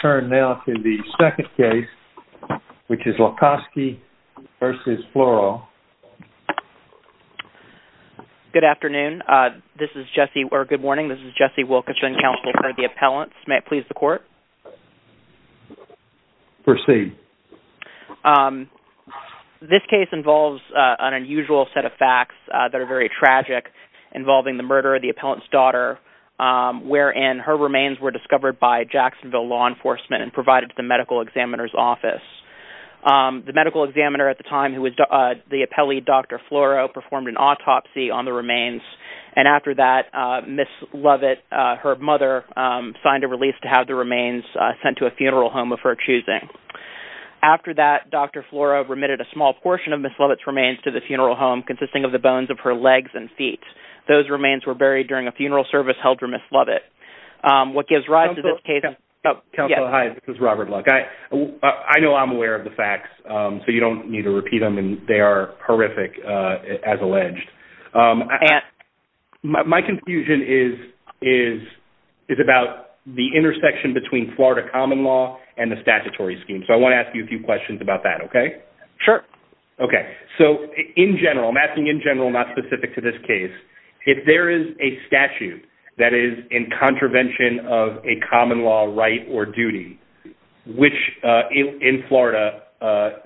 Good morning, this is Jesse Wilkinson, counsel for the appellants. May it please the court? Proceed. This case involves an unusual set of facts that are very tragic, involving the murder of the appellant's daughter, wherein her remains were discovered by Jacksonville law enforcement and provided to the medical examiner's office. The medical examiner at the time, who was the appellee, Dr. Floro, performed an autopsy on the remains, and after that, Ms. Lovett, her mother, signed a release to have the remains sent to a funeral home of her choosing. After that, Dr. Floro remitted a small portion of Ms. Lovett's remains to the funeral home, consisting of the bones of her legs and feet. Those remains were buried during a funeral service held for Ms. Lovett. Counsel, hi, this is Robert Luck. I know I'm aware of the facts, so you don't need to repeat them, and they are horrific, as alleged. My confusion is about the intersection between Florida common law and the statutory scheme, so I want to ask you a few questions about that, okay? Sure. Okay, so in general, I'm asking in general, not specific to this case, if there is a statute that is in contravention of a common law right or duty, which in Florida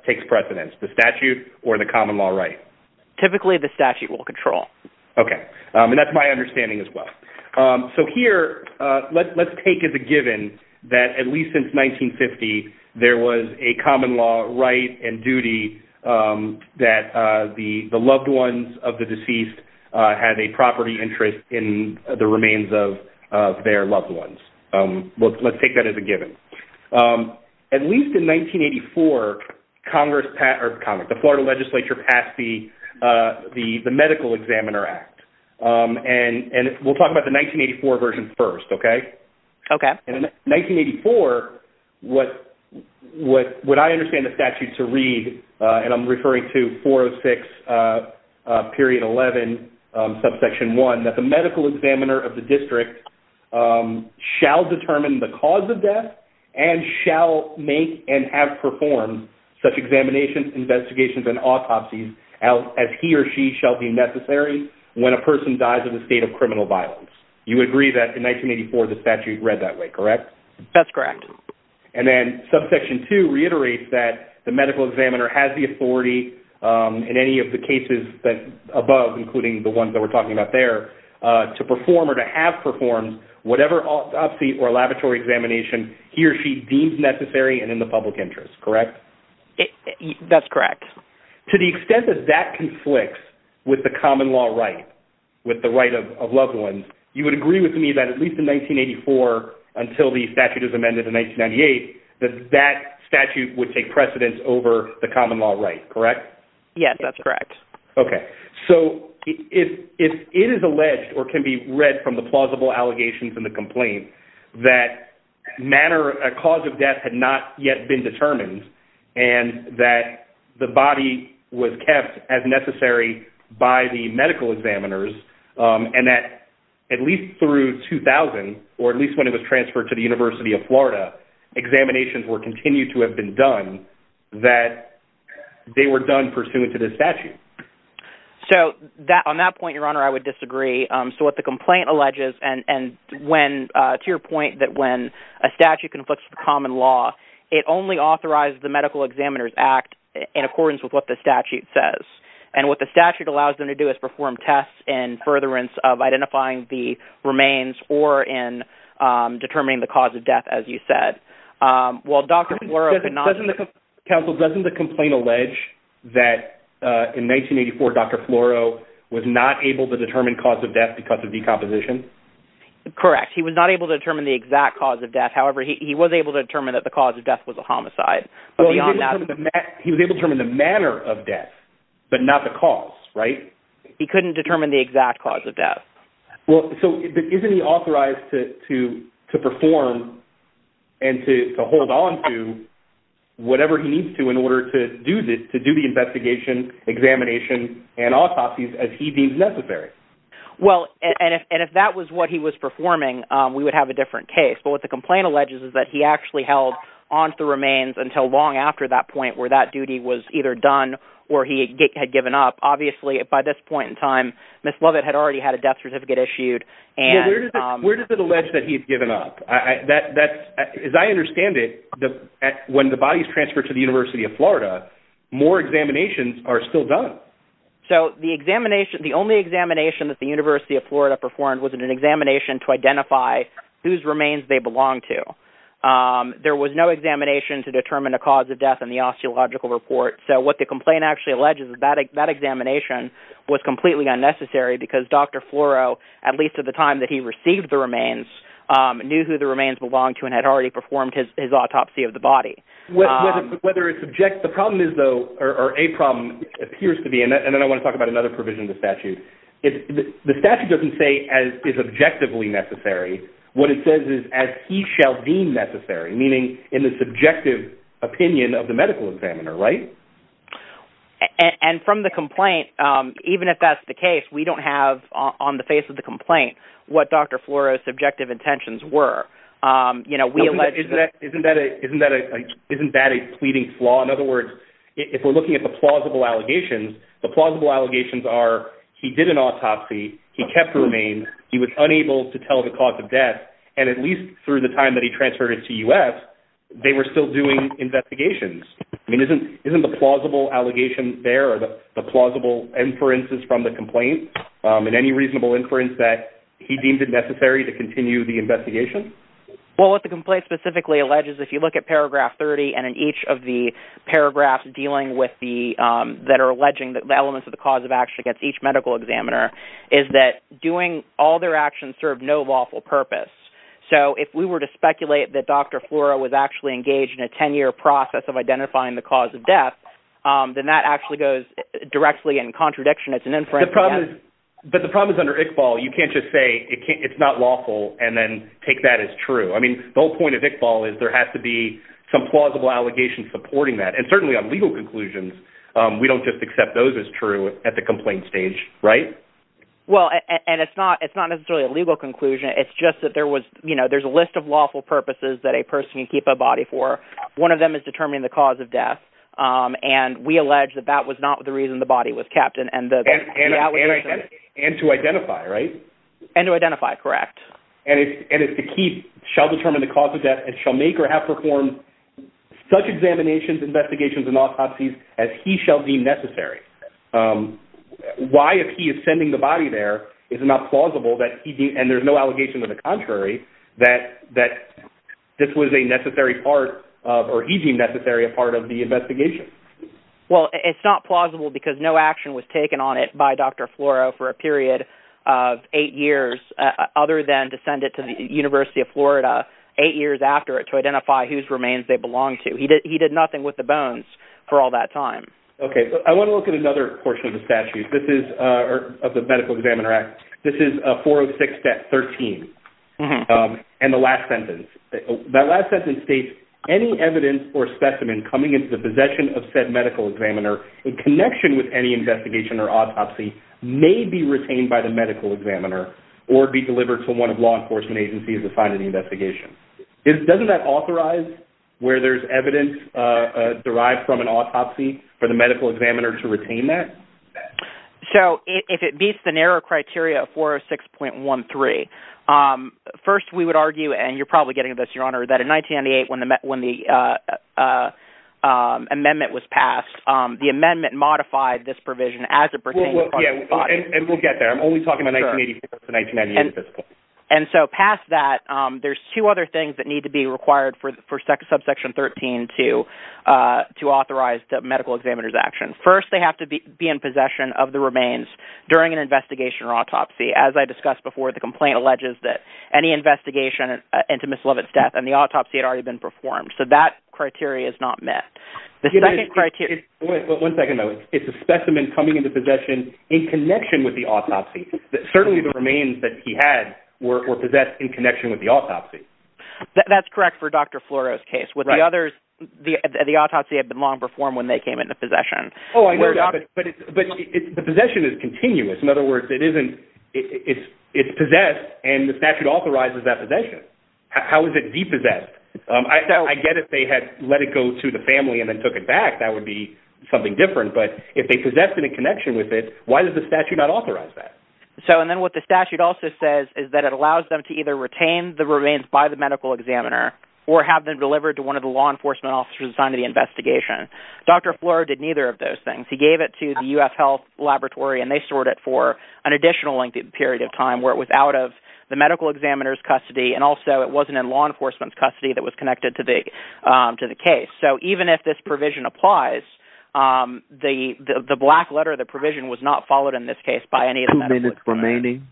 takes precedence, the statute or the common law right? Typically, the statute will control. Okay, and that's my understanding as well. So here, let's take as a given that at least since 1950, there was a common law right and duty that the loved ones of the deceased had a property interest in the remains of their loved ones. Let's take that as a given. At least in 1984, the Florida legislature passed the Medical Examiner Act, and we'll talk about the 1984 version first, okay? Okay. And in 1984, what I understand the statute to read, and I'm referring to 406.11 subsection 1, that the medical examiner of the district shall determine the cause of death and shall make and have performed such examinations, investigations, and autopsies as he or she shall be necessary when a person dies of a state of criminal violence. You agree that in 1984, the statute read that way, correct? That's correct. And then subsection 2 reiterates that the medical examiner has the authority in any of the cases above, including the ones that we're talking about there, to perform or to have performed whatever autopsy or laboratory examination he or she deems necessary and in the public interest, correct? That's correct. To the extent that that conflicts with the common law right, with the right of loved ones, you would agree with me that at least in 1984 until the statute is amended in 1998, that that statute would take precedence over the common law right, correct? Yes, that's correct. Okay. So if it is alleged or can be read from the plausible allegations in the complaint that a cause of death had not yet been determined and that the body was kept as necessary by the medical examiners and that at least through 2000, or at least when it was transferred to the University of Florida, examinations were continued to have been done, that they were done pursuant to this statute. So on that point, your honor, I would disagree. So what the complaint alleges, and to your point that when a statute conflicts with the common law, it only authorizes the medical examiner's act in accordance with what the statute says. And what the statute allows them to do is perform tests in furtherance of identifying the remains or in determining the cause of death, as you said. Counsel, doesn't the complaint allege that in 1984, Dr. Floro was not able to determine cause of death because of decomposition? Correct. He was not able to determine the exact cause of death. However, he was able to determine that the cause of death was a homicide. He was able to determine the manner of death, but not the cause, right? He couldn't determine the exact cause of death. Well, so isn't he authorized to perform and to hold on to whatever he needs to in order to do the investigation, examination, and autopsies as he deems necessary? Well, and if that was what he was performing, we would have a different case. But what the complaint alleges is that he actually held onto the remains until long after that point where that duty was either done or he had given up. Obviously, by this point in time, Ms. Lovett had already had a death certificate issued. Where does it allege that he had given up? As I understand it, when the bodies transfer to the University of Florida, more examinations are still done. So the only examination that the University of Florida performed was an examination to identify whose remains they belonged to. There was no examination to determine the cause of death in the osteological report. So what the complaint actually alleges is that that examination was completely unnecessary because Dr. Floro, at least at the time that he received the remains, knew who the remains belonged to and had already performed his autopsy of the body. Whether it's subject – the problem is, though, or a problem appears to be – and then I want to talk about another provision of the statute. The statute doesn't say as is objectively necessary. What it says is as he shall deem necessary, meaning in the subjective opinion of the medical examiner, right? And from the complaint, even if that's the case, we don't have on the face of the complaint what Dr. Floro's subjective intentions were. Isn't that a pleading flaw? In other words, if we're looking at the plausible allegations, the plausible allegations are he did an autopsy, he kept the remains, he was unable to tell the cause of death, and at least through the time that he transferred it to UF, they were still doing investigations. I mean, isn't the plausible allegation there, the plausible inferences from the complaint, and any reasonable inference that he deemed it necessary to continue the investigation? Well, what the complaint specifically alleges, if you look at paragraph 30 and in each of the paragraphs dealing with the – that are alleging that the elements of the cause of action against each medical examiner is that doing all their actions served no lawful purpose. So if we were to speculate that Dr. Floro was actually engaged in a 10-year process of identifying the cause of death, then that actually goes directly in contradiction. But the problem is under Iqbal, you can't just say it's not lawful and then take that as true. I mean, the whole point of Iqbal is there has to be some plausible allegation supporting that. And certainly on legal conclusions, we don't just accept those as true at the complaint stage, right? Well, and it's not necessarily a legal conclusion. It's just that there was – there's a list of lawful purposes that a person can keep a body for. One of them is determining the cause of death. And we allege that that was not the reason the body was kept and the allegation – And to identify, right? And to identify, correct. And if the keep shall determine the cause of death and shall make or have performed such examinations, investigations, and autopsies as he shall deem necessary, why, if he is sending the body there, is it not plausible that he – and there's no allegation to the contrary – that this was a necessary part of – or he deemed necessary a part of the investigation? Well, it's not plausible because no action was taken on it by Dr. Floro for a period of eight years, other than to send it to the University of Florida eight years after it to identify whose remains they belonged to. He did nothing with the bones for all that time. Okay. I want to look at another portion of the statute. This is – or of the Medical Examiner Act. This is 406.13 and the last sentence. That last sentence states, any evidence or specimen coming into the possession of said medical examiner in connection with any investigation or autopsy may be retained by the medical examiner or be delivered to one of law enforcement agencies assigned to the investigation. Doesn't that authorize where there's evidence derived from an autopsy for the medical examiner to retain that? So if it meets the narrow criteria of 406.13, first we would argue – and you're probably getting this, Your Honor – that in 1998 when the amendment was passed, the amendment modified this provision as it pertained to the body. And we'll get there. I'm only talking about 1984 to 1998 at this point. And so past that, there's two other things that need to be required for subsection 13 to authorize the medical examiner's action. First, they have to be in possession of the remains during an investigation or autopsy. As I discussed before, the complaint alleges that any investigation into Ms. Lovett's death and the autopsy had already been performed. So that criteria is not met. One second, though. It's a specimen coming into possession in connection with the autopsy. Certainly the remains that he had were possessed in connection with the autopsy. That's correct for Dr. Floro's case. With the others, the autopsy had been long performed when they came into possession. But the possession is continuous. In other words, it's possessed, and the statute authorizes that possession. How is it depossessed? I get it if they had let it go to the family and then took it back. That would be something different. But if they possessed it in connection with it, why does the statute not authorize that? Then what the statute also says is that it allows them to either retain the remains by the medical examiner or have them delivered to one of the law enforcement officers assigned to the investigation. Dr. Floro did neither of those things. He gave it to the U.S. Health Laboratory, and they stored it for an additional length of period of time where it was out of the medical examiner's custody, and also it wasn't in law enforcement's custody that was connected to the case. So even if this provision applies, the black letter, the provision, was not followed in this case by any of the medical examiners. Two minutes remaining.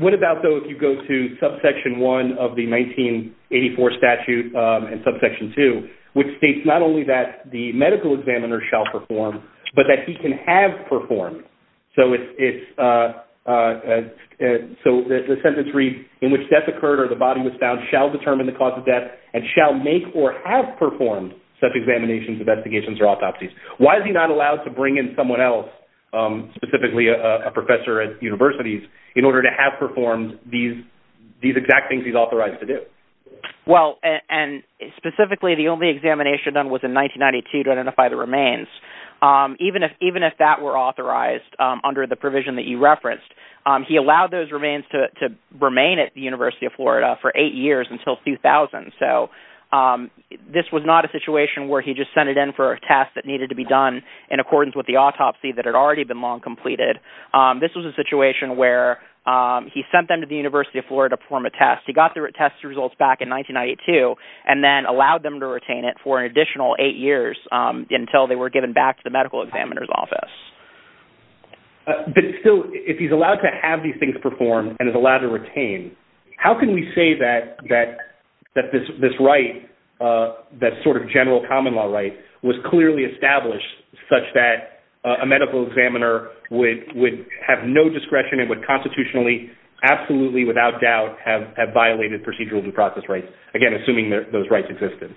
What about, though, if you go to subsection 1 of the 1984 statute and subsection 2, which states not only that the medical examiner shall perform, but that he can have performed? So the sentence reads, and shall make or have performed such examinations, investigations, or autopsies. Why is he not allowed to bring in someone else, specifically a professor at universities, in order to have performed these exact things he's authorized to do? Well, and specifically the only examination done was in 1992 to identify the remains. Even if that were authorized under the provision that you referenced, he allowed those remains to remain at the University of Florida for eight years until 2000. So this was not a situation where he just sent it in for a test that needed to be done in accordance with the autopsy that had already been long completed. This was a situation where he sent them to the University of Florida to perform a test. He got the test results back in 1992 and then allowed them to retain it for an additional eight years until they were given back to the medical examiner's office. But still, if he's allowed to have these things performed and is allowed to retain, how can we say that this right, that sort of general common law right, was clearly established such that a medical examiner would have no discretion and would constitutionally, absolutely without doubt, have violated procedural due process rights, again, assuming those rights existed?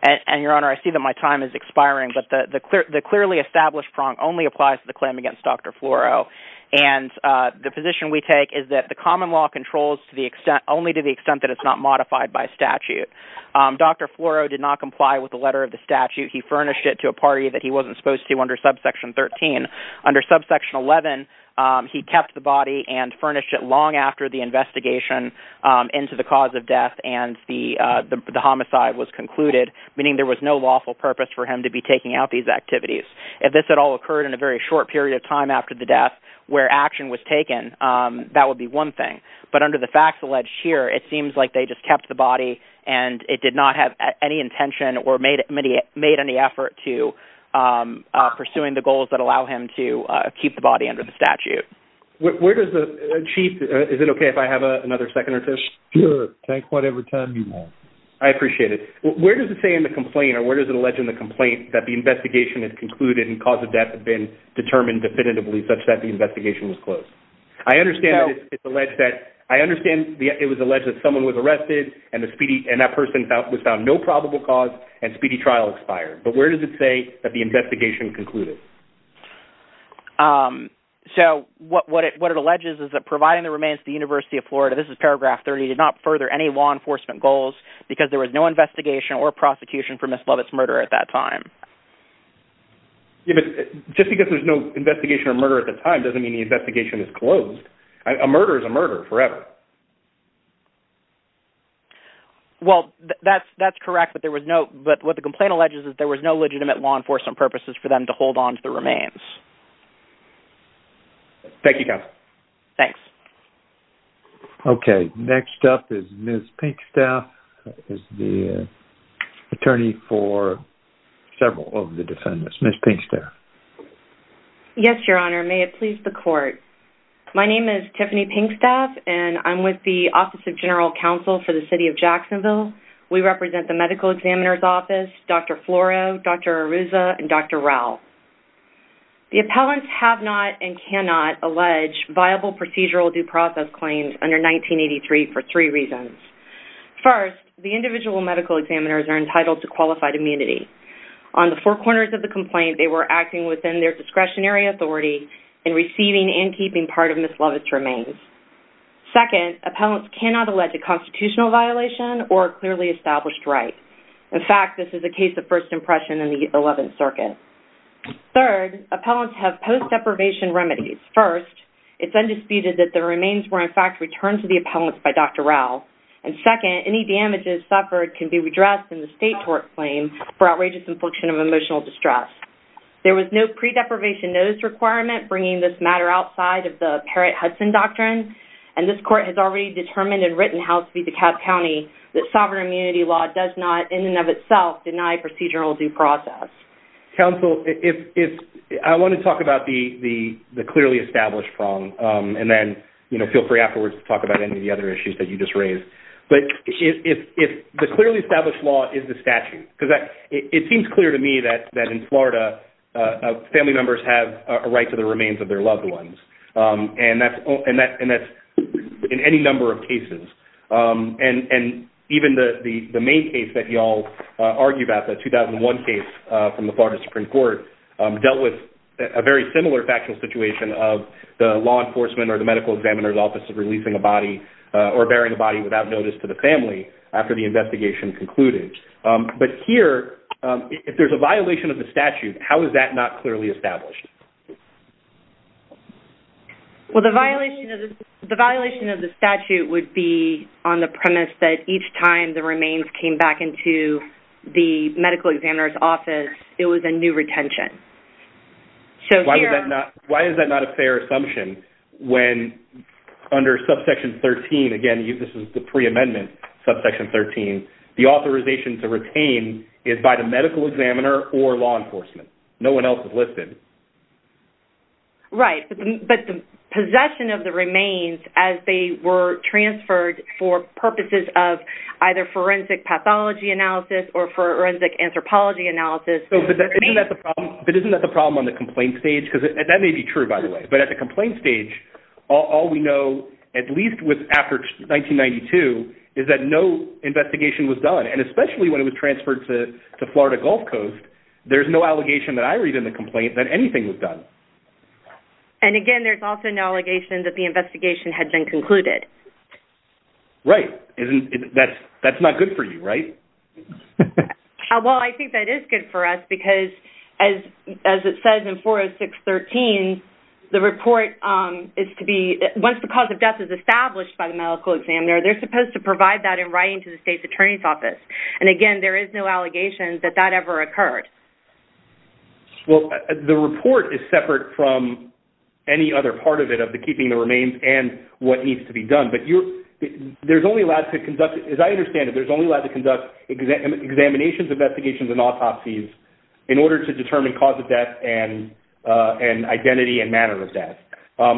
And, Your Honor, I see that my time is expiring, but the clearly established prong only applies to the claim against Dr. Floro. And the position we take is that the common law controls to the extent, only to the extent that it's not modified by statute. Dr. Floro did not comply with the letter of the statute. He furnished it to a party that he wasn't supposed to under subsection 13. Under subsection 11, he kept the body and furnished it long after the investigation into the cause of death and the homicide was concluded, meaning there was no lawful purpose for him to be taking out these activities. If this at all occurred in a very short period of time after the death, where action was taken, that would be one thing. But under the facts alleged here, it seems like they just kept the body and it did not have any intention or made any effort to pursuing the goals that allow him to keep the body under the statute. Where does the, Chief, is it okay if I have another second or two? Sure, take whatever time you want. I appreciate it. Where does it say in the complaint, or where does it allege in the complaint, that the investigation is concluded and the cause of death had been determined definitively such that the investigation was closed? I understand it was alleged that someone was arrested and that person was found no probable cause and speedy trial expired. But where does it say that the investigation concluded? So what it alleges is that providing the remains to the University of Florida, this is paragraph 30, did not further any law enforcement goals because there was no investigation or prosecution for Ms. Lovett's murder at that time. Just because there's no investigation or murder at the time doesn't mean the investigation is closed. A murder is a murder forever. Well, that's correct, but what the complaint alleges is that there was no legitimate law enforcement purposes for them to hold onto the remains. Thank you, Counsel. Thanks. Okay. Next up is Ms. Pinkstaff, who is the attorney for several of the defendants. Ms. Pinkstaff. Yes, Your Honor. May it please the Court. My name is Tiffany Pinkstaff, and I'm with the Office of General Counsel for the City of Jacksonville. We represent the Medical Examiner's Office, Dr. Floro, Dr. Arruzza, and Dr. Rao. The appellants have not and cannot allege viable procedural due process claims under 1983 for three reasons. First, the individual medical examiners are entitled to qualified immunity. On the four corners of the complaint, they were acting within their discretionary authority in receiving and keeping part of Ms. Lovett's remains. Second, appellants cannot allege a constitutional violation or a clearly established right. In fact, this is a case of first impression in the 11th Circuit. Third, appellants have post-deprivation remedies. First, it's undisputed that the remains were, in fact, returned to the appellants by Dr. Rao. And second, any damages suffered can be redressed in the state tort claim for outrageous infliction of emotional distress. There was no pre-deprivation notice requirement bringing this matter outside of the Parrott-Hudson doctrine, and this Court has already determined and written House v. DeKalb County that sovereign immunity law does not, in and of itself, deny procedural due process. Counsel, I want to talk about the clearly established wrong, and then feel free afterwards to talk about any of the other issues that you just raised. But the clearly established law is the statute. It seems clear to me that in Florida, family members have a right to the remains of their loved ones, and that's in any number of cases. And even the main case that you all argue about, the 2001 case from the Florida Supreme Court, dealt with a very similar factual situation of the law enforcement or the medical examiner's office releasing a body or burying a body without notice to the family after the investigation concluded. But here, if there's a violation of the statute, how is that not clearly established? Well, the violation of the statute would be on the premise that each time the remains came back into the medical examiner's office, it was a new retention. Why is that not a fair assumption when under subsection 13, again, this is the pre-amendment subsection 13, the authorization to retain is by the medical examiner or law enforcement? No one else is listed. Right, but the possession of the remains as they were transferred for purposes of either forensic pathology analysis or forensic anthropology analysis... But isn't that the problem on the complaint stage? That may be true, by the way, but at the complaint stage, all we know, at least after 1992, is that no investigation was done. And especially when it was transferred to Florida Gulf Coast, there's no allegation that I read in the complaint that anything was done. And again, there's also no allegation that the investigation had been concluded. Right. That's not good for you, right? Well, I think that is good for us because, as it says in 406.13, the report is to be... Once the cause of death is established by the medical examiner, they're supposed to provide that in writing to the state's attorney's office. And again, there is no allegation that that ever occurred. Well, the report is separate from any other part of it of the keeping the remains and what needs to be done. But there's only allowed to conduct... As I understand it, there's only allowed to conduct examinations, investigations, and autopsies in order to determine cause of death and identity and manner of death.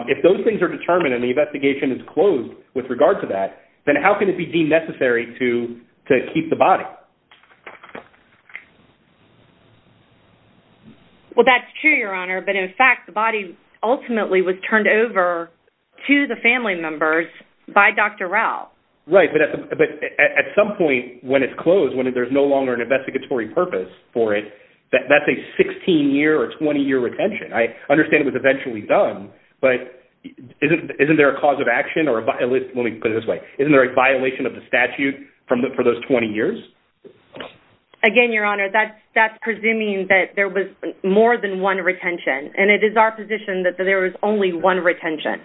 If those things are determined and the investigation is closed with regard to that, then how can it be deemed necessary to keep the body? Well, that's true, Your Honour, but in fact, the body ultimately was turned over to the family members by Dr. Rao. Right, but at some point when it's closed, when there's no longer an investigatory purpose for it, that's a 16-year or 20-year retention. I understand it was eventually done, but isn't there a cause of action or a... Let me put it this way. Isn't there a violation of the statute for those 20 years? Again, Your Honour, that's presuming that there was more than one retention, and it is our position that there was only one retention.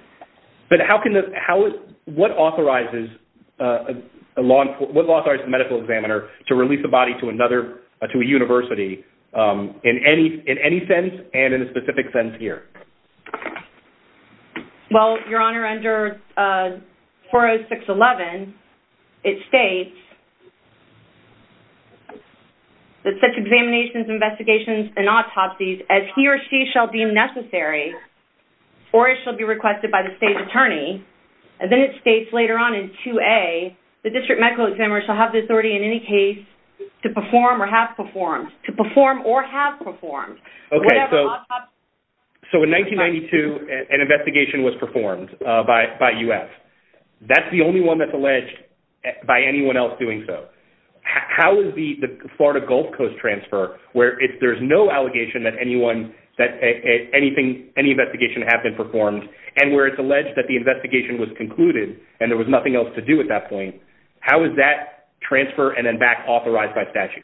But how can the... What authorizes a law... What authorizes a medical examiner to release a body to another... to a university in any sense and in a specific sense here? Well, Your Honour, under 40611, it states that such examinations, investigations, and autopsies, as he or she shall deem necessary or as shall be requested by the state attorney, and then it states later on in 2A, the district medical examiner shall have the authority in any case to perform or have performed. To perform or have performed. Okay, so in 1992, an investigation was performed by U.S. That's the only one that's alleged by anyone else doing so. How is the Florida Gulf Coast transfer, where there's no allegation that anyone... that any investigation had been performed, and where it's alleged that the investigation was concluded and there was nothing else to do at that point, how is that transfer and then back authorized by statute?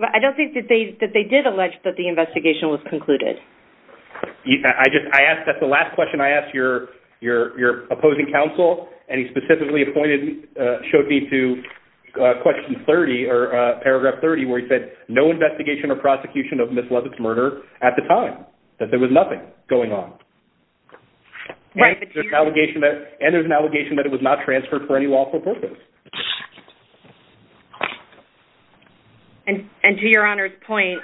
I don't think that they did allege that the investigation was concluded. I just... I asked... your opposing counsel, and he specifically pointed... showed me to question 30, or paragraph 30, where he said no investigation or prosecution of Ms. Leavitt's murder at the time, that there was nothing going on. And there's an allegation that it was not transferred for any lawful purpose. And to Your Honour's point,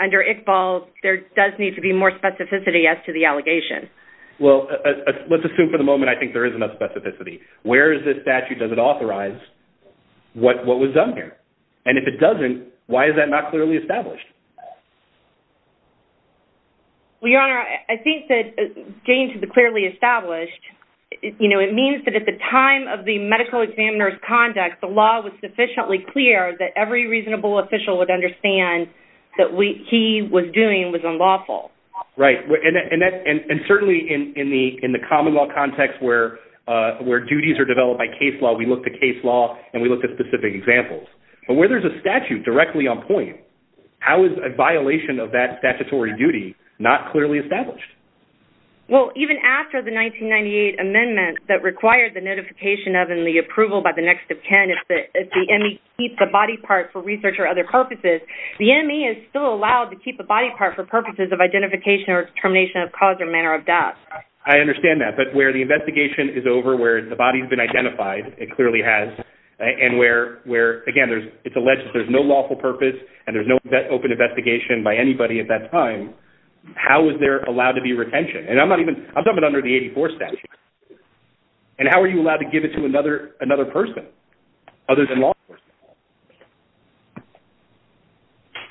under Iqbal, there does need to be more specificity as to the allegation. Well, let's assume for the moment I think there is enough specificity. Where is this statute, does it authorize what was done here? And if it doesn't, why is that not clearly established? Well, Your Honour, I think that getting to the clearly established, you know, it means that at the time of the medical examiner's conduct, the law was sufficiently clear that every reasonable official would understand that what he was doing was unlawful. Right, and certainly in the common law context where duties are developed by case law, we look to case law and we look at specific examples. But where there's a statute directly on point, how is a violation of that statutory duty not clearly established? Well, even after the 1998 amendment that required the notification of and the approval by the next of kin, if the ME keeps a body part for research or other purposes, the ME is still allowed to keep a body part for purposes of identification or determination of cause or manner of death. I understand that, but where the investigation is over, where the body's been identified, it clearly has, and where, again, it's alleged that there's no lawful purpose and there's no open investigation by anybody at that time, how is there allowed to be retention? And I'm talking about under the 84 statute. And how are you allowed to give it to another person other than law enforcement?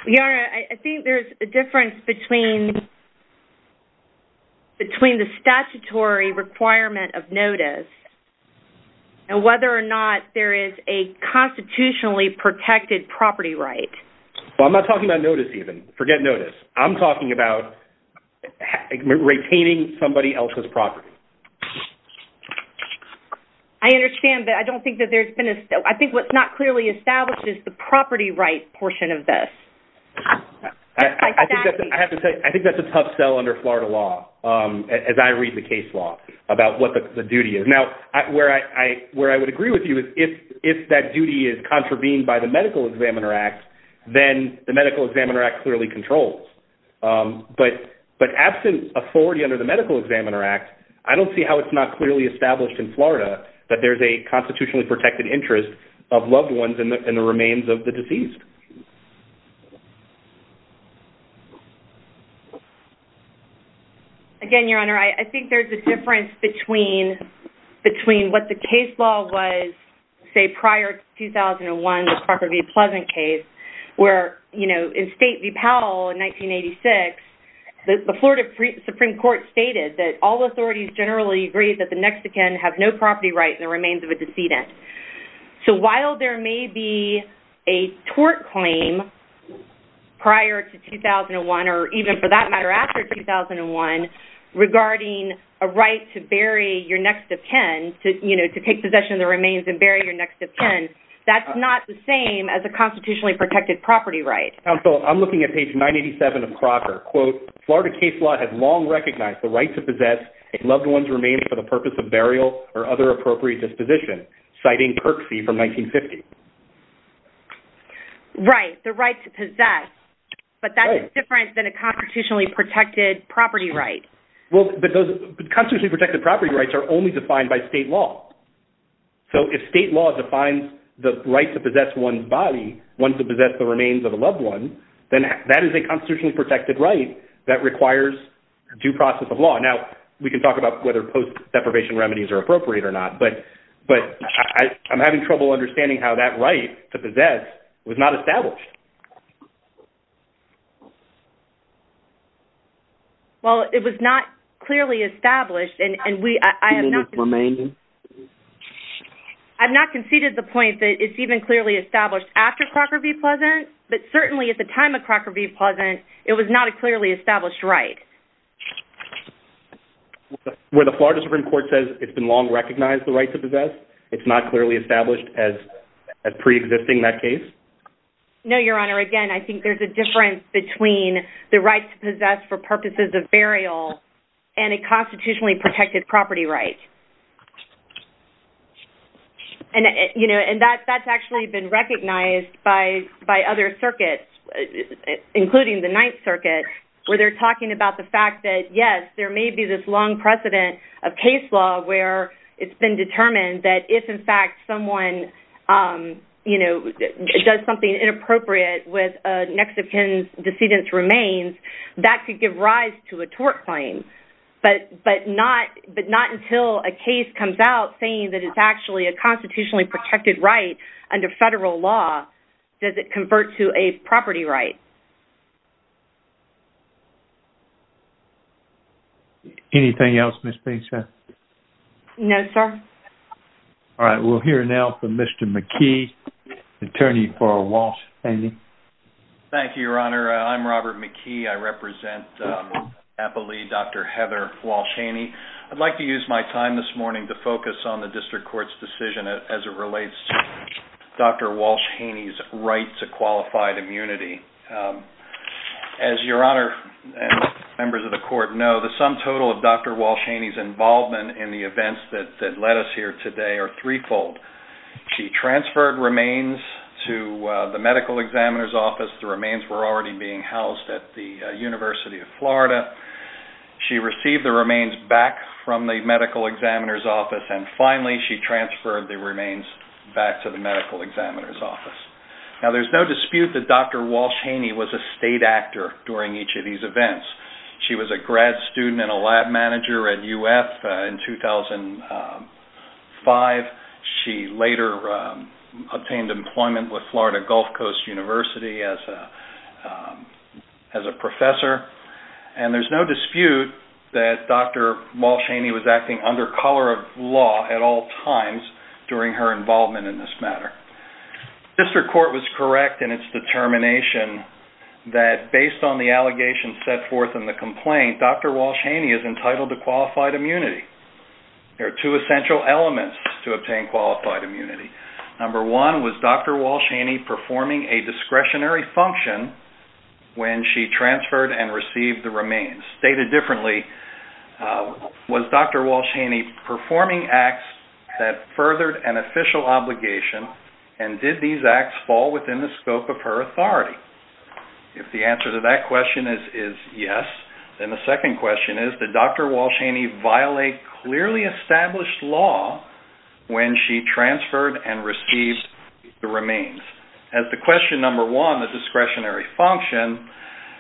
Yara, I think there's a difference between the statutory requirement of notice and whether or not there is a constitutionally protected property right. Well, I'm not talking about notice even. Forget notice. I'm talking about retaining somebody else's property. I understand, but I don't think that there's been a... I think what's not clearly established is the property right portion of this. I think that's a tough sell under Florida law, as I read the case law, about what the duty is. Now, where I would agree with you is if that duty is contravened by the Medical Examiner Act, then the Medical Examiner Act clearly controls. But absent authority under the Medical Examiner Act, I don't see how it's not clearly established in Florida that there's a constitutionally protected interest of loved ones in the remains of the deceased. Again, Your Honor, I think there's a difference between what the case law was, say, prior to 2001, the Parker v. Pleasant case, where, you know, in State v. Powell in 1986, the Florida Supreme Court stated that all authorities generally agree that the next of kin have no property right in the remains of a decedent. So while there may be a tort claim prior to 2001, or even, for that matter, after 2001, regarding a right to bury your next of kin, you know, to take possession of the remains and bury your next of kin, that's not the same as a constitutionally protected property right. Counsel, I'm looking at page 987 of Crocker. Quote, Florida case law has long recognized the right to possess a loved one's remains for the purpose of burial or other appropriate disposition, citing Kirksey from 1950. Right, the right to possess, but that's different than a constitutionally protected property right. Well, but those constitutionally protected property rights are only defined by state law. So if state law defines the right to possess one's body, one to possess the remains of a loved one, then that is a constitutionally protected right that requires due process of law. Now, we can talk about whether post-deprivation remedies are appropriate or not, but I'm having trouble understanding how that right to possess was not established. Well, it was not clearly established, and I have not conceded the point that it's even clearly established after Crocker v. Pleasant, but certainly at the time of Crocker v. Pleasant, it was not a clearly established right. Where the Florida Supreme Court says it's been long recognized the right to possess, it's not clearly established as pre-existing that case? No, Your Honor, again, I think there's a difference between the right to possess for purposes of burial and a constitutionally protected property right. And that's actually been recognized by other circuits, including the Ninth Circuit, where they're talking about the fact that, yes, there may be this long precedent of case law where it's been determined that if, in fact, someone does something inappropriate with a Mexican decedent's remains, that could give rise to a tort claim. But not until a case comes out saying that it's actually a constitutionally protected right under federal law does it convert to a property right. Anything else, Ms. Bateson? No, sir. All right, we'll hear now from Mr. McKee, attorney for Walsh-Haney. Thank you, Your Honor. I'm Robert McKee. I represent Appalachia, Dr. Heather Walsh-Haney. I'd like to use my time this morning to focus on the district court's decision as it relates to Dr. Walsh-Haney's right to qualified immunity. As Your Honor and members of the court know, the sum total of Dr. Walsh-Haney's involvement in the events that led us here today are threefold. She transferred remains to the medical examiner's office. The remains were already being housed at the University of Florida. She received the remains back from the medical examiner's office. And finally, she transferred the remains back to the medical examiner's office. Now, there's no dispute that Dr. Walsh-Haney was a state actor during each of these events. She was a grad student and a lab manager at UF in 2005. She later obtained employment with Florida Gulf Coast University as a professor. And there's no dispute that Dr. Walsh-Haney was acting under color of law at all times during her involvement in this matter. District court was correct in its determination that based on the allegations set forth in the complaint, Dr. Walsh-Haney is entitled to qualified immunity. There are two essential elements to obtain qualified immunity. Number one was Dr. Walsh-Haney performing a discretionary function when she transferred and received the remains. Stated differently, was Dr. Walsh-Haney performing acts that furthered an official obligation, and did these acts fall within the scope of her authority? If the answer to that question is yes, then the second question is that Dr. Walsh-Haney violated clearly established law when she transferred and received the remains. As the question number one, the discretionary function,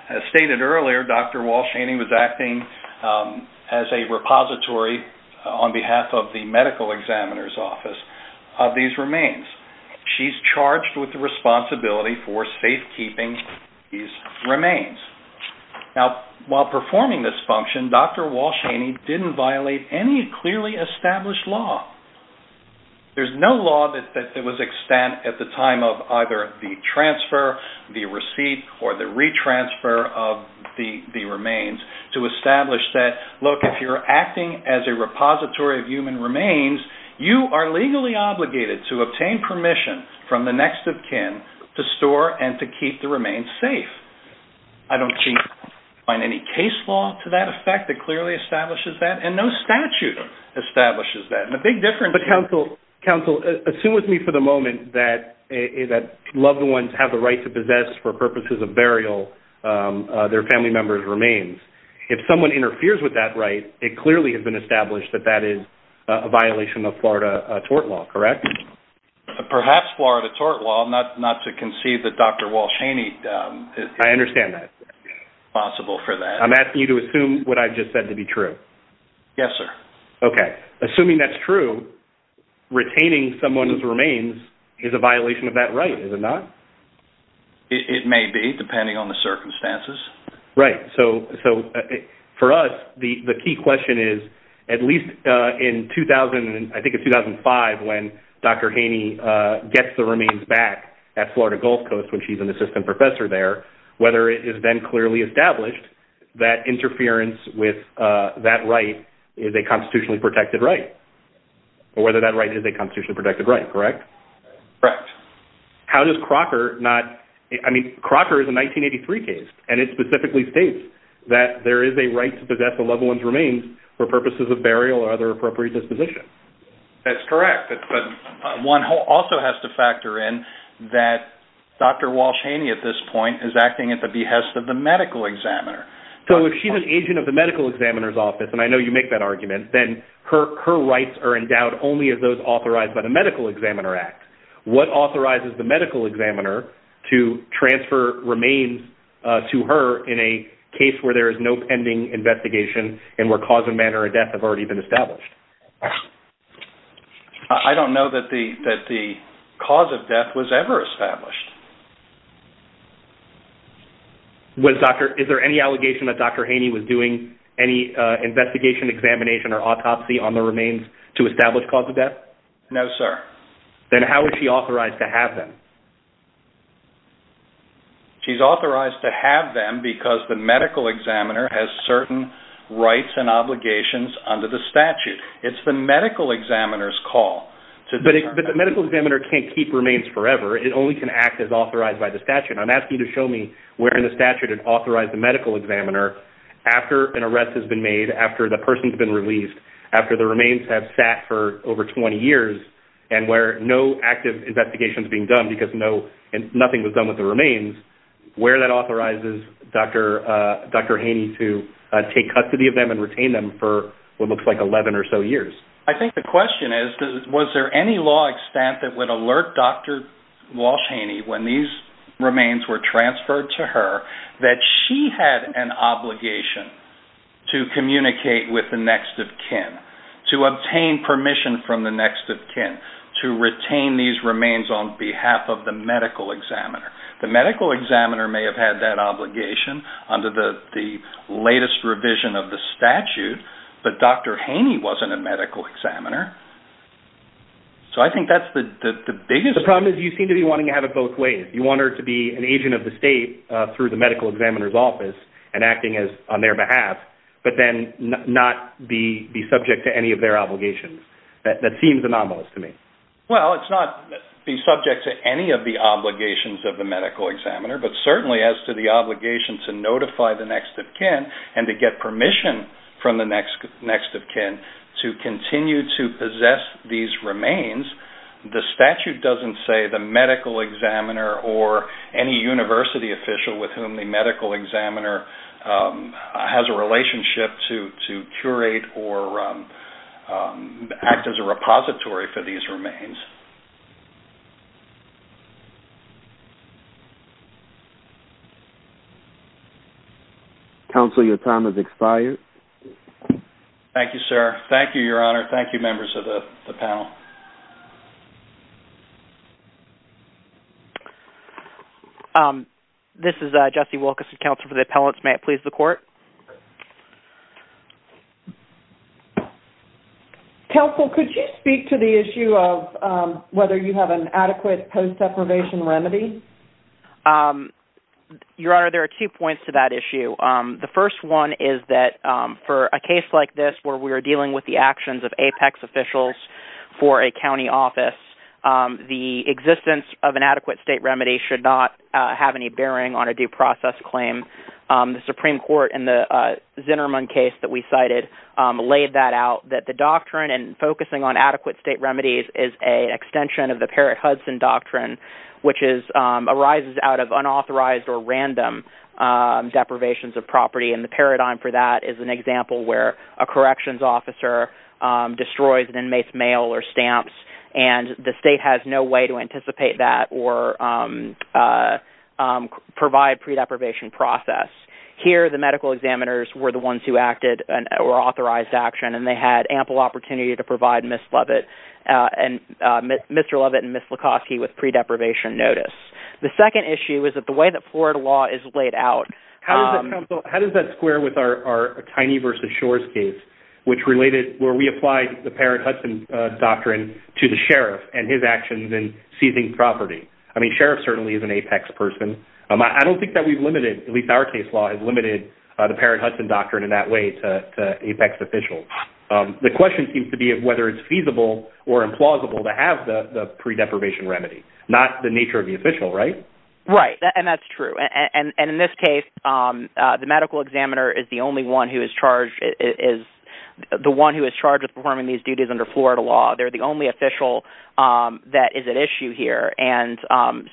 as stated earlier, Dr. Walsh-Haney was acting as a repository on behalf of the medical examiner's office of these remains. She's charged with the responsibility for safekeeping these remains. Now, while performing this function, Dr. Walsh-Haney didn't violate any clearly established law. There's no law that was extant at the time of either the transfer, the receipt, or the retransfer of the remains to establish that, look, if you're acting as a repository of human remains, you are legally obligated to obtain permission from the next of kin to store and to keep the remains safe. I don't think you can find any case law to that effect that clearly establishes that, and no statute establishes that. And the big difference... But counsel, assume with me for the moment that loved ones have the right to possess for purposes of burial their family member's remains. If someone interferes with that right, it clearly has been established that that is a violation of Florida tort law, correct? Perhaps Florida tort law, not to conceive that Dr. Walsh-Haney... I understand that. ...is responsible for that. I'm asking you to assume what I've just said to be true. Yes, sir. Okay. So retaining someone's remains is a violation of that right, is it not? It may be, depending on the circumstances. Right. So for us, the key question is, at least in 2000 and I think in 2005 when Dr. Haney gets the remains back at Florida Gulf Coast when she's an assistant professor there, whether it has been clearly established that interference with that right is a constitutionally protected right, or whether that right is a constitutionally protected right, correct? Correct. How does Crocker not... I mean, Crocker is a 1983 case, and it specifically states that there is a right to possess a loved one's remains for purposes of burial or other appropriate disposition. That's correct. One also has to factor in that Dr. Walsh-Haney at this point is acting at the behest of the medical examiner. So if she's an agent of the medical examiner's office, and I know you make that argument, then her rights are endowed only as those authorized by the Medical Examiner Act. What authorizes the medical examiner to transfer remains to her in a case where there is no pending investigation and where cause and manner of death have already been established? I don't know that the cause of death was ever established. Is there any allegation that Dr. Haney was doing any investigation, examination, or autopsy on the remains to establish cause of death? No, sir. Then how is she authorized to have them? She's authorized to have them because the medical examiner has certain rights and obligations under the statute. It's the medical examiner's call. But the medical examiner can't keep remains forever. It only can act as authorized by the statute. I'm asking you to show me where in the statute it authorized the medical examiner after an arrest has been made, after the person has been released, after the remains have sat for over 20 years and where no active investigation is being done because nothing was done with the remains, where that authorizes Dr. Haney to take custody of them and retain them for what looks like 11 or so years. I think the question is, was there any law extent that would alert Dr. Walsh Haney when these remains were transferred to her that she had an obligation to communicate with the next of kin, to obtain permission from the next of kin to retain these remains on behalf of the medical examiner? The medical examiner may have had that obligation under the latest revision of the statute, but Dr. Haney wasn't a medical examiner. So I think that's the biggest... The problem is you seem to be wanting to have it both ways. You want her to be an agent of the state through the medical examiner's office and acting on their behalf, but then not be subject to any of their obligations. That seems anomalous to me. Well, it's not be subject to any of the obligations of the medical examiner, but certainly as to the obligation to notify the next of kin and to get permission from the next of kin to continue to possess these remains, the statute doesn't say the medical examiner or any university official with whom the medical examiner has a relationship to curate or act as a repository for these remains. Counsel, your time has expired. Thank you, sir. Thank you, Your Honor. Thank you, members of the panel. This is Jesse Wilkerson, Counsel for the Appellants. May it please the Court? Counsel, could you speak to the issue of whether you have an adequate post-deprivation remedy? Your Honor, there are two points to that issue. The first one is that for a case like this where we are dealing with the actions of APEX officials for a county office, the existence of an adequate state remedy should not have any bearing on a due process claim. The Supreme Court in the Zinnerman case that we cited laid that out, that the doctrine in focusing on adequate state remedies is an extension of the Parrott-Hudson doctrine, which arises out of unauthorized or random deprivations of property, and the paradigm for that is an example where a corrections officer destroys an inmate's mail or stamps, and the state has no way to anticipate that or provide pre-deprivation process. Here, the medical examiners were the ones who acted or authorized action, and they had ample opportunity to provide Mr. Lovett and Ms. Lukoski with pre-deprivation notice. The second issue is that the way that Florida law is laid out... Counsel, how does that square with our Tiny vs. Shores case, which related where we applied the Parrott-Hudson doctrine to the sheriff and his actions in seizing property? I mean, sheriff certainly is an APEX person. I don't think that we've limited, at least our case law, has limited the Parrott-Hudson doctrine in that way to APEX officials. The question seems to be whether it's feasible or implausible to have the pre-deprivation remedy, not the nature of the official, right? Right, and that's true. In this case, the medical examiner is the only one who is charged with performing these duties under Florida law. They're the only official that is at issue here.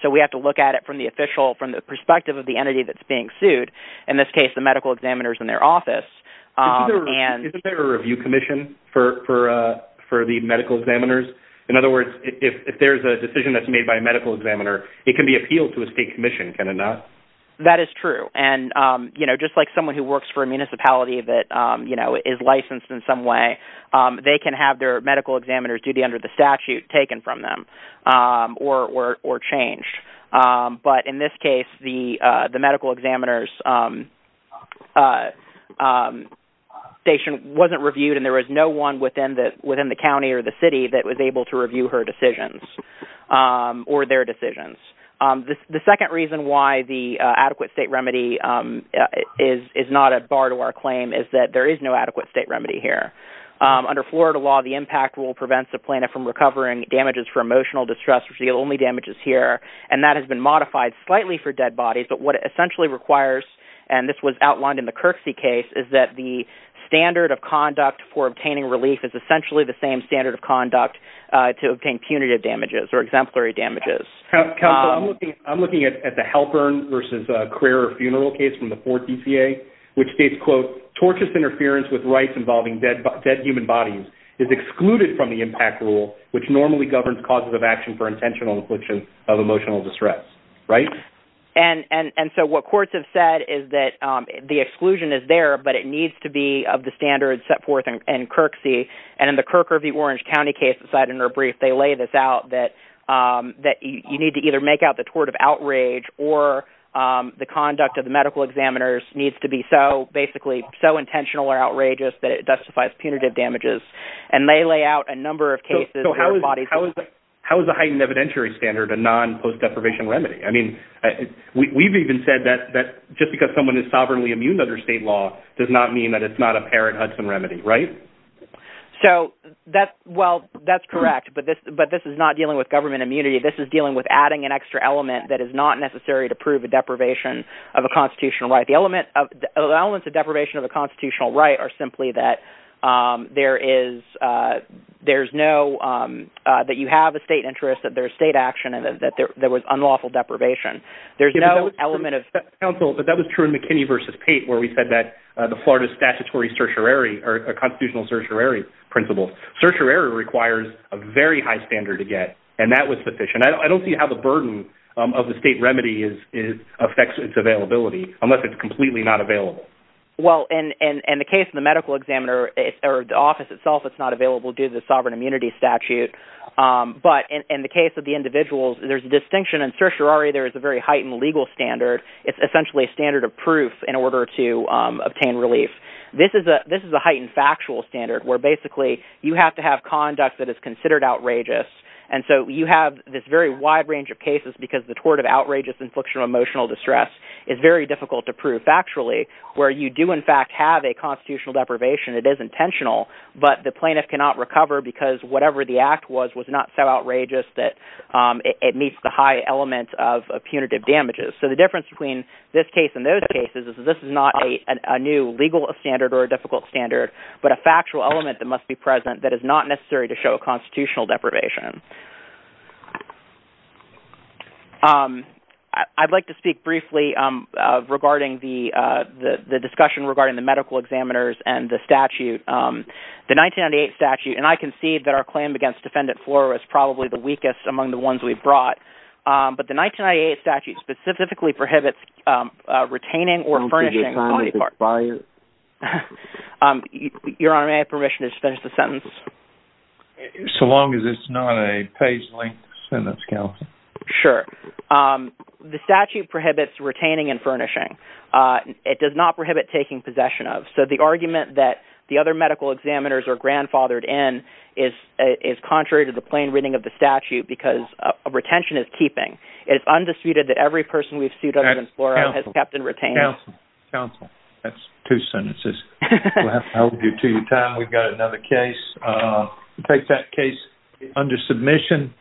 So we have to look at it from the official, from the perspective of the entity that's being sued, in this case the medical examiners in their office. Isn't there a review commission for the medical examiners? In other words, if there's a decision that's made by a medical examiner, it can be appealed to as a commission, can it not? That is true. Just like someone who works for a municipality that is licensed in some way, they can have their medical examiners duty under the statute taken from them or changed. But in this case, the medical examiner's station wasn't reviewed and there was no one within the county or the city that was able to review her decisions or their decisions. The second reason why the adequate state remedy is not a bar to our claim is that there is no adequate state remedy here. Under Florida law, the impact rule prevents the plaintiff from recovering damages for emotional distress, which is the only damages here, and that has been modified slightly for dead bodies. But what it essentially requires, and this was outlined in the Kirksey case, is that the standard of conduct for obtaining relief is essentially the same standard of conduct to obtain punitive damages or exemplary damages. Counsel, I'm looking at the Halpern versus Carrera funeral case from the 4th DCA, which states, quote, tortious interference with rights involving dead human bodies is excluded from the impact rule, which normally governs causes of action for intentional infliction of emotional distress, right? And so what courts have said is that the exclusion is there, but it needs to be of the standard set forth in Kirksey. And in the Kirk or the Orange County case, they laid this out that you need to either make out the tort of outrage or the conduct of the medical examiners needs to be so, basically, so intentional or outrageous that it justifies punitive damages. And they lay out a number of cases where bodies… How is the heightened evidentiary standard a non-post deprivation remedy? I mean, we've even said that just because someone is sovereignly immune under state law does not mean that it's not a parent Hudson remedy, right? So, well, that's correct. But this is not dealing with government immunity. This is dealing with adding an extra element that is not necessary to prove a deprivation of a constitutional right. The elements of deprivation of a constitutional right are simply that there is no… that you have a state interest, that there's state action, and that there was unlawful deprivation. There's no element of… Counsel, but that was true in McKinney v. Pate where we said that the Florida statutory certiorari or a constitutional certiorari principle, certiorari requires a very high standard to get, and that was sufficient. I don't see how the burden of the state remedy affects its availability unless it's completely not available. Well, in the case of the medical examiner or the office itself, it's not available due to the sovereign immunity statute. But in the case of the individuals, there's a distinction. In certiorari, there is a very heightened legal standard. It's essentially a standard of proof in order to obtain relief. This is a heightened factual standard where basically you have to have conduct that is considered outrageous. And so you have this very wide range of cases because the tort of outrageous infliction of emotional distress is very difficult to prove factually where you do in fact have a constitutional deprivation. It is intentional, but the plaintiff cannot recover because whatever the act was was not so outrageous that it meets the high element of punitive damages. So the difference between this case and those cases is this is not a new legal standard or a difficult standard, but a factual element that must be present that is not necessary to show constitutional deprivation. I'd like to speak briefly regarding the discussion regarding the medical examiners and the statute, the 1998 statute. And I concede that our claim against Defendant Floro is probably the weakest among the ones we've brought. But the 1998 statute specifically prohibits retaining or furnishing body parts. So long as it's not a page-length sentence, counsel. Sure. The statute prohibits retaining and furnishing. It does not prohibit taking possession of. So the argument that the other medical examiners are grandfathered in is contrary to the plain reading of the statute because retention is keeping. It's undisputed that every person we've sued against Floro has kept and retained. Counsel. Counsel. That's two sentences. We'll have to hold you to your time. We've got another case. Take that case under submission.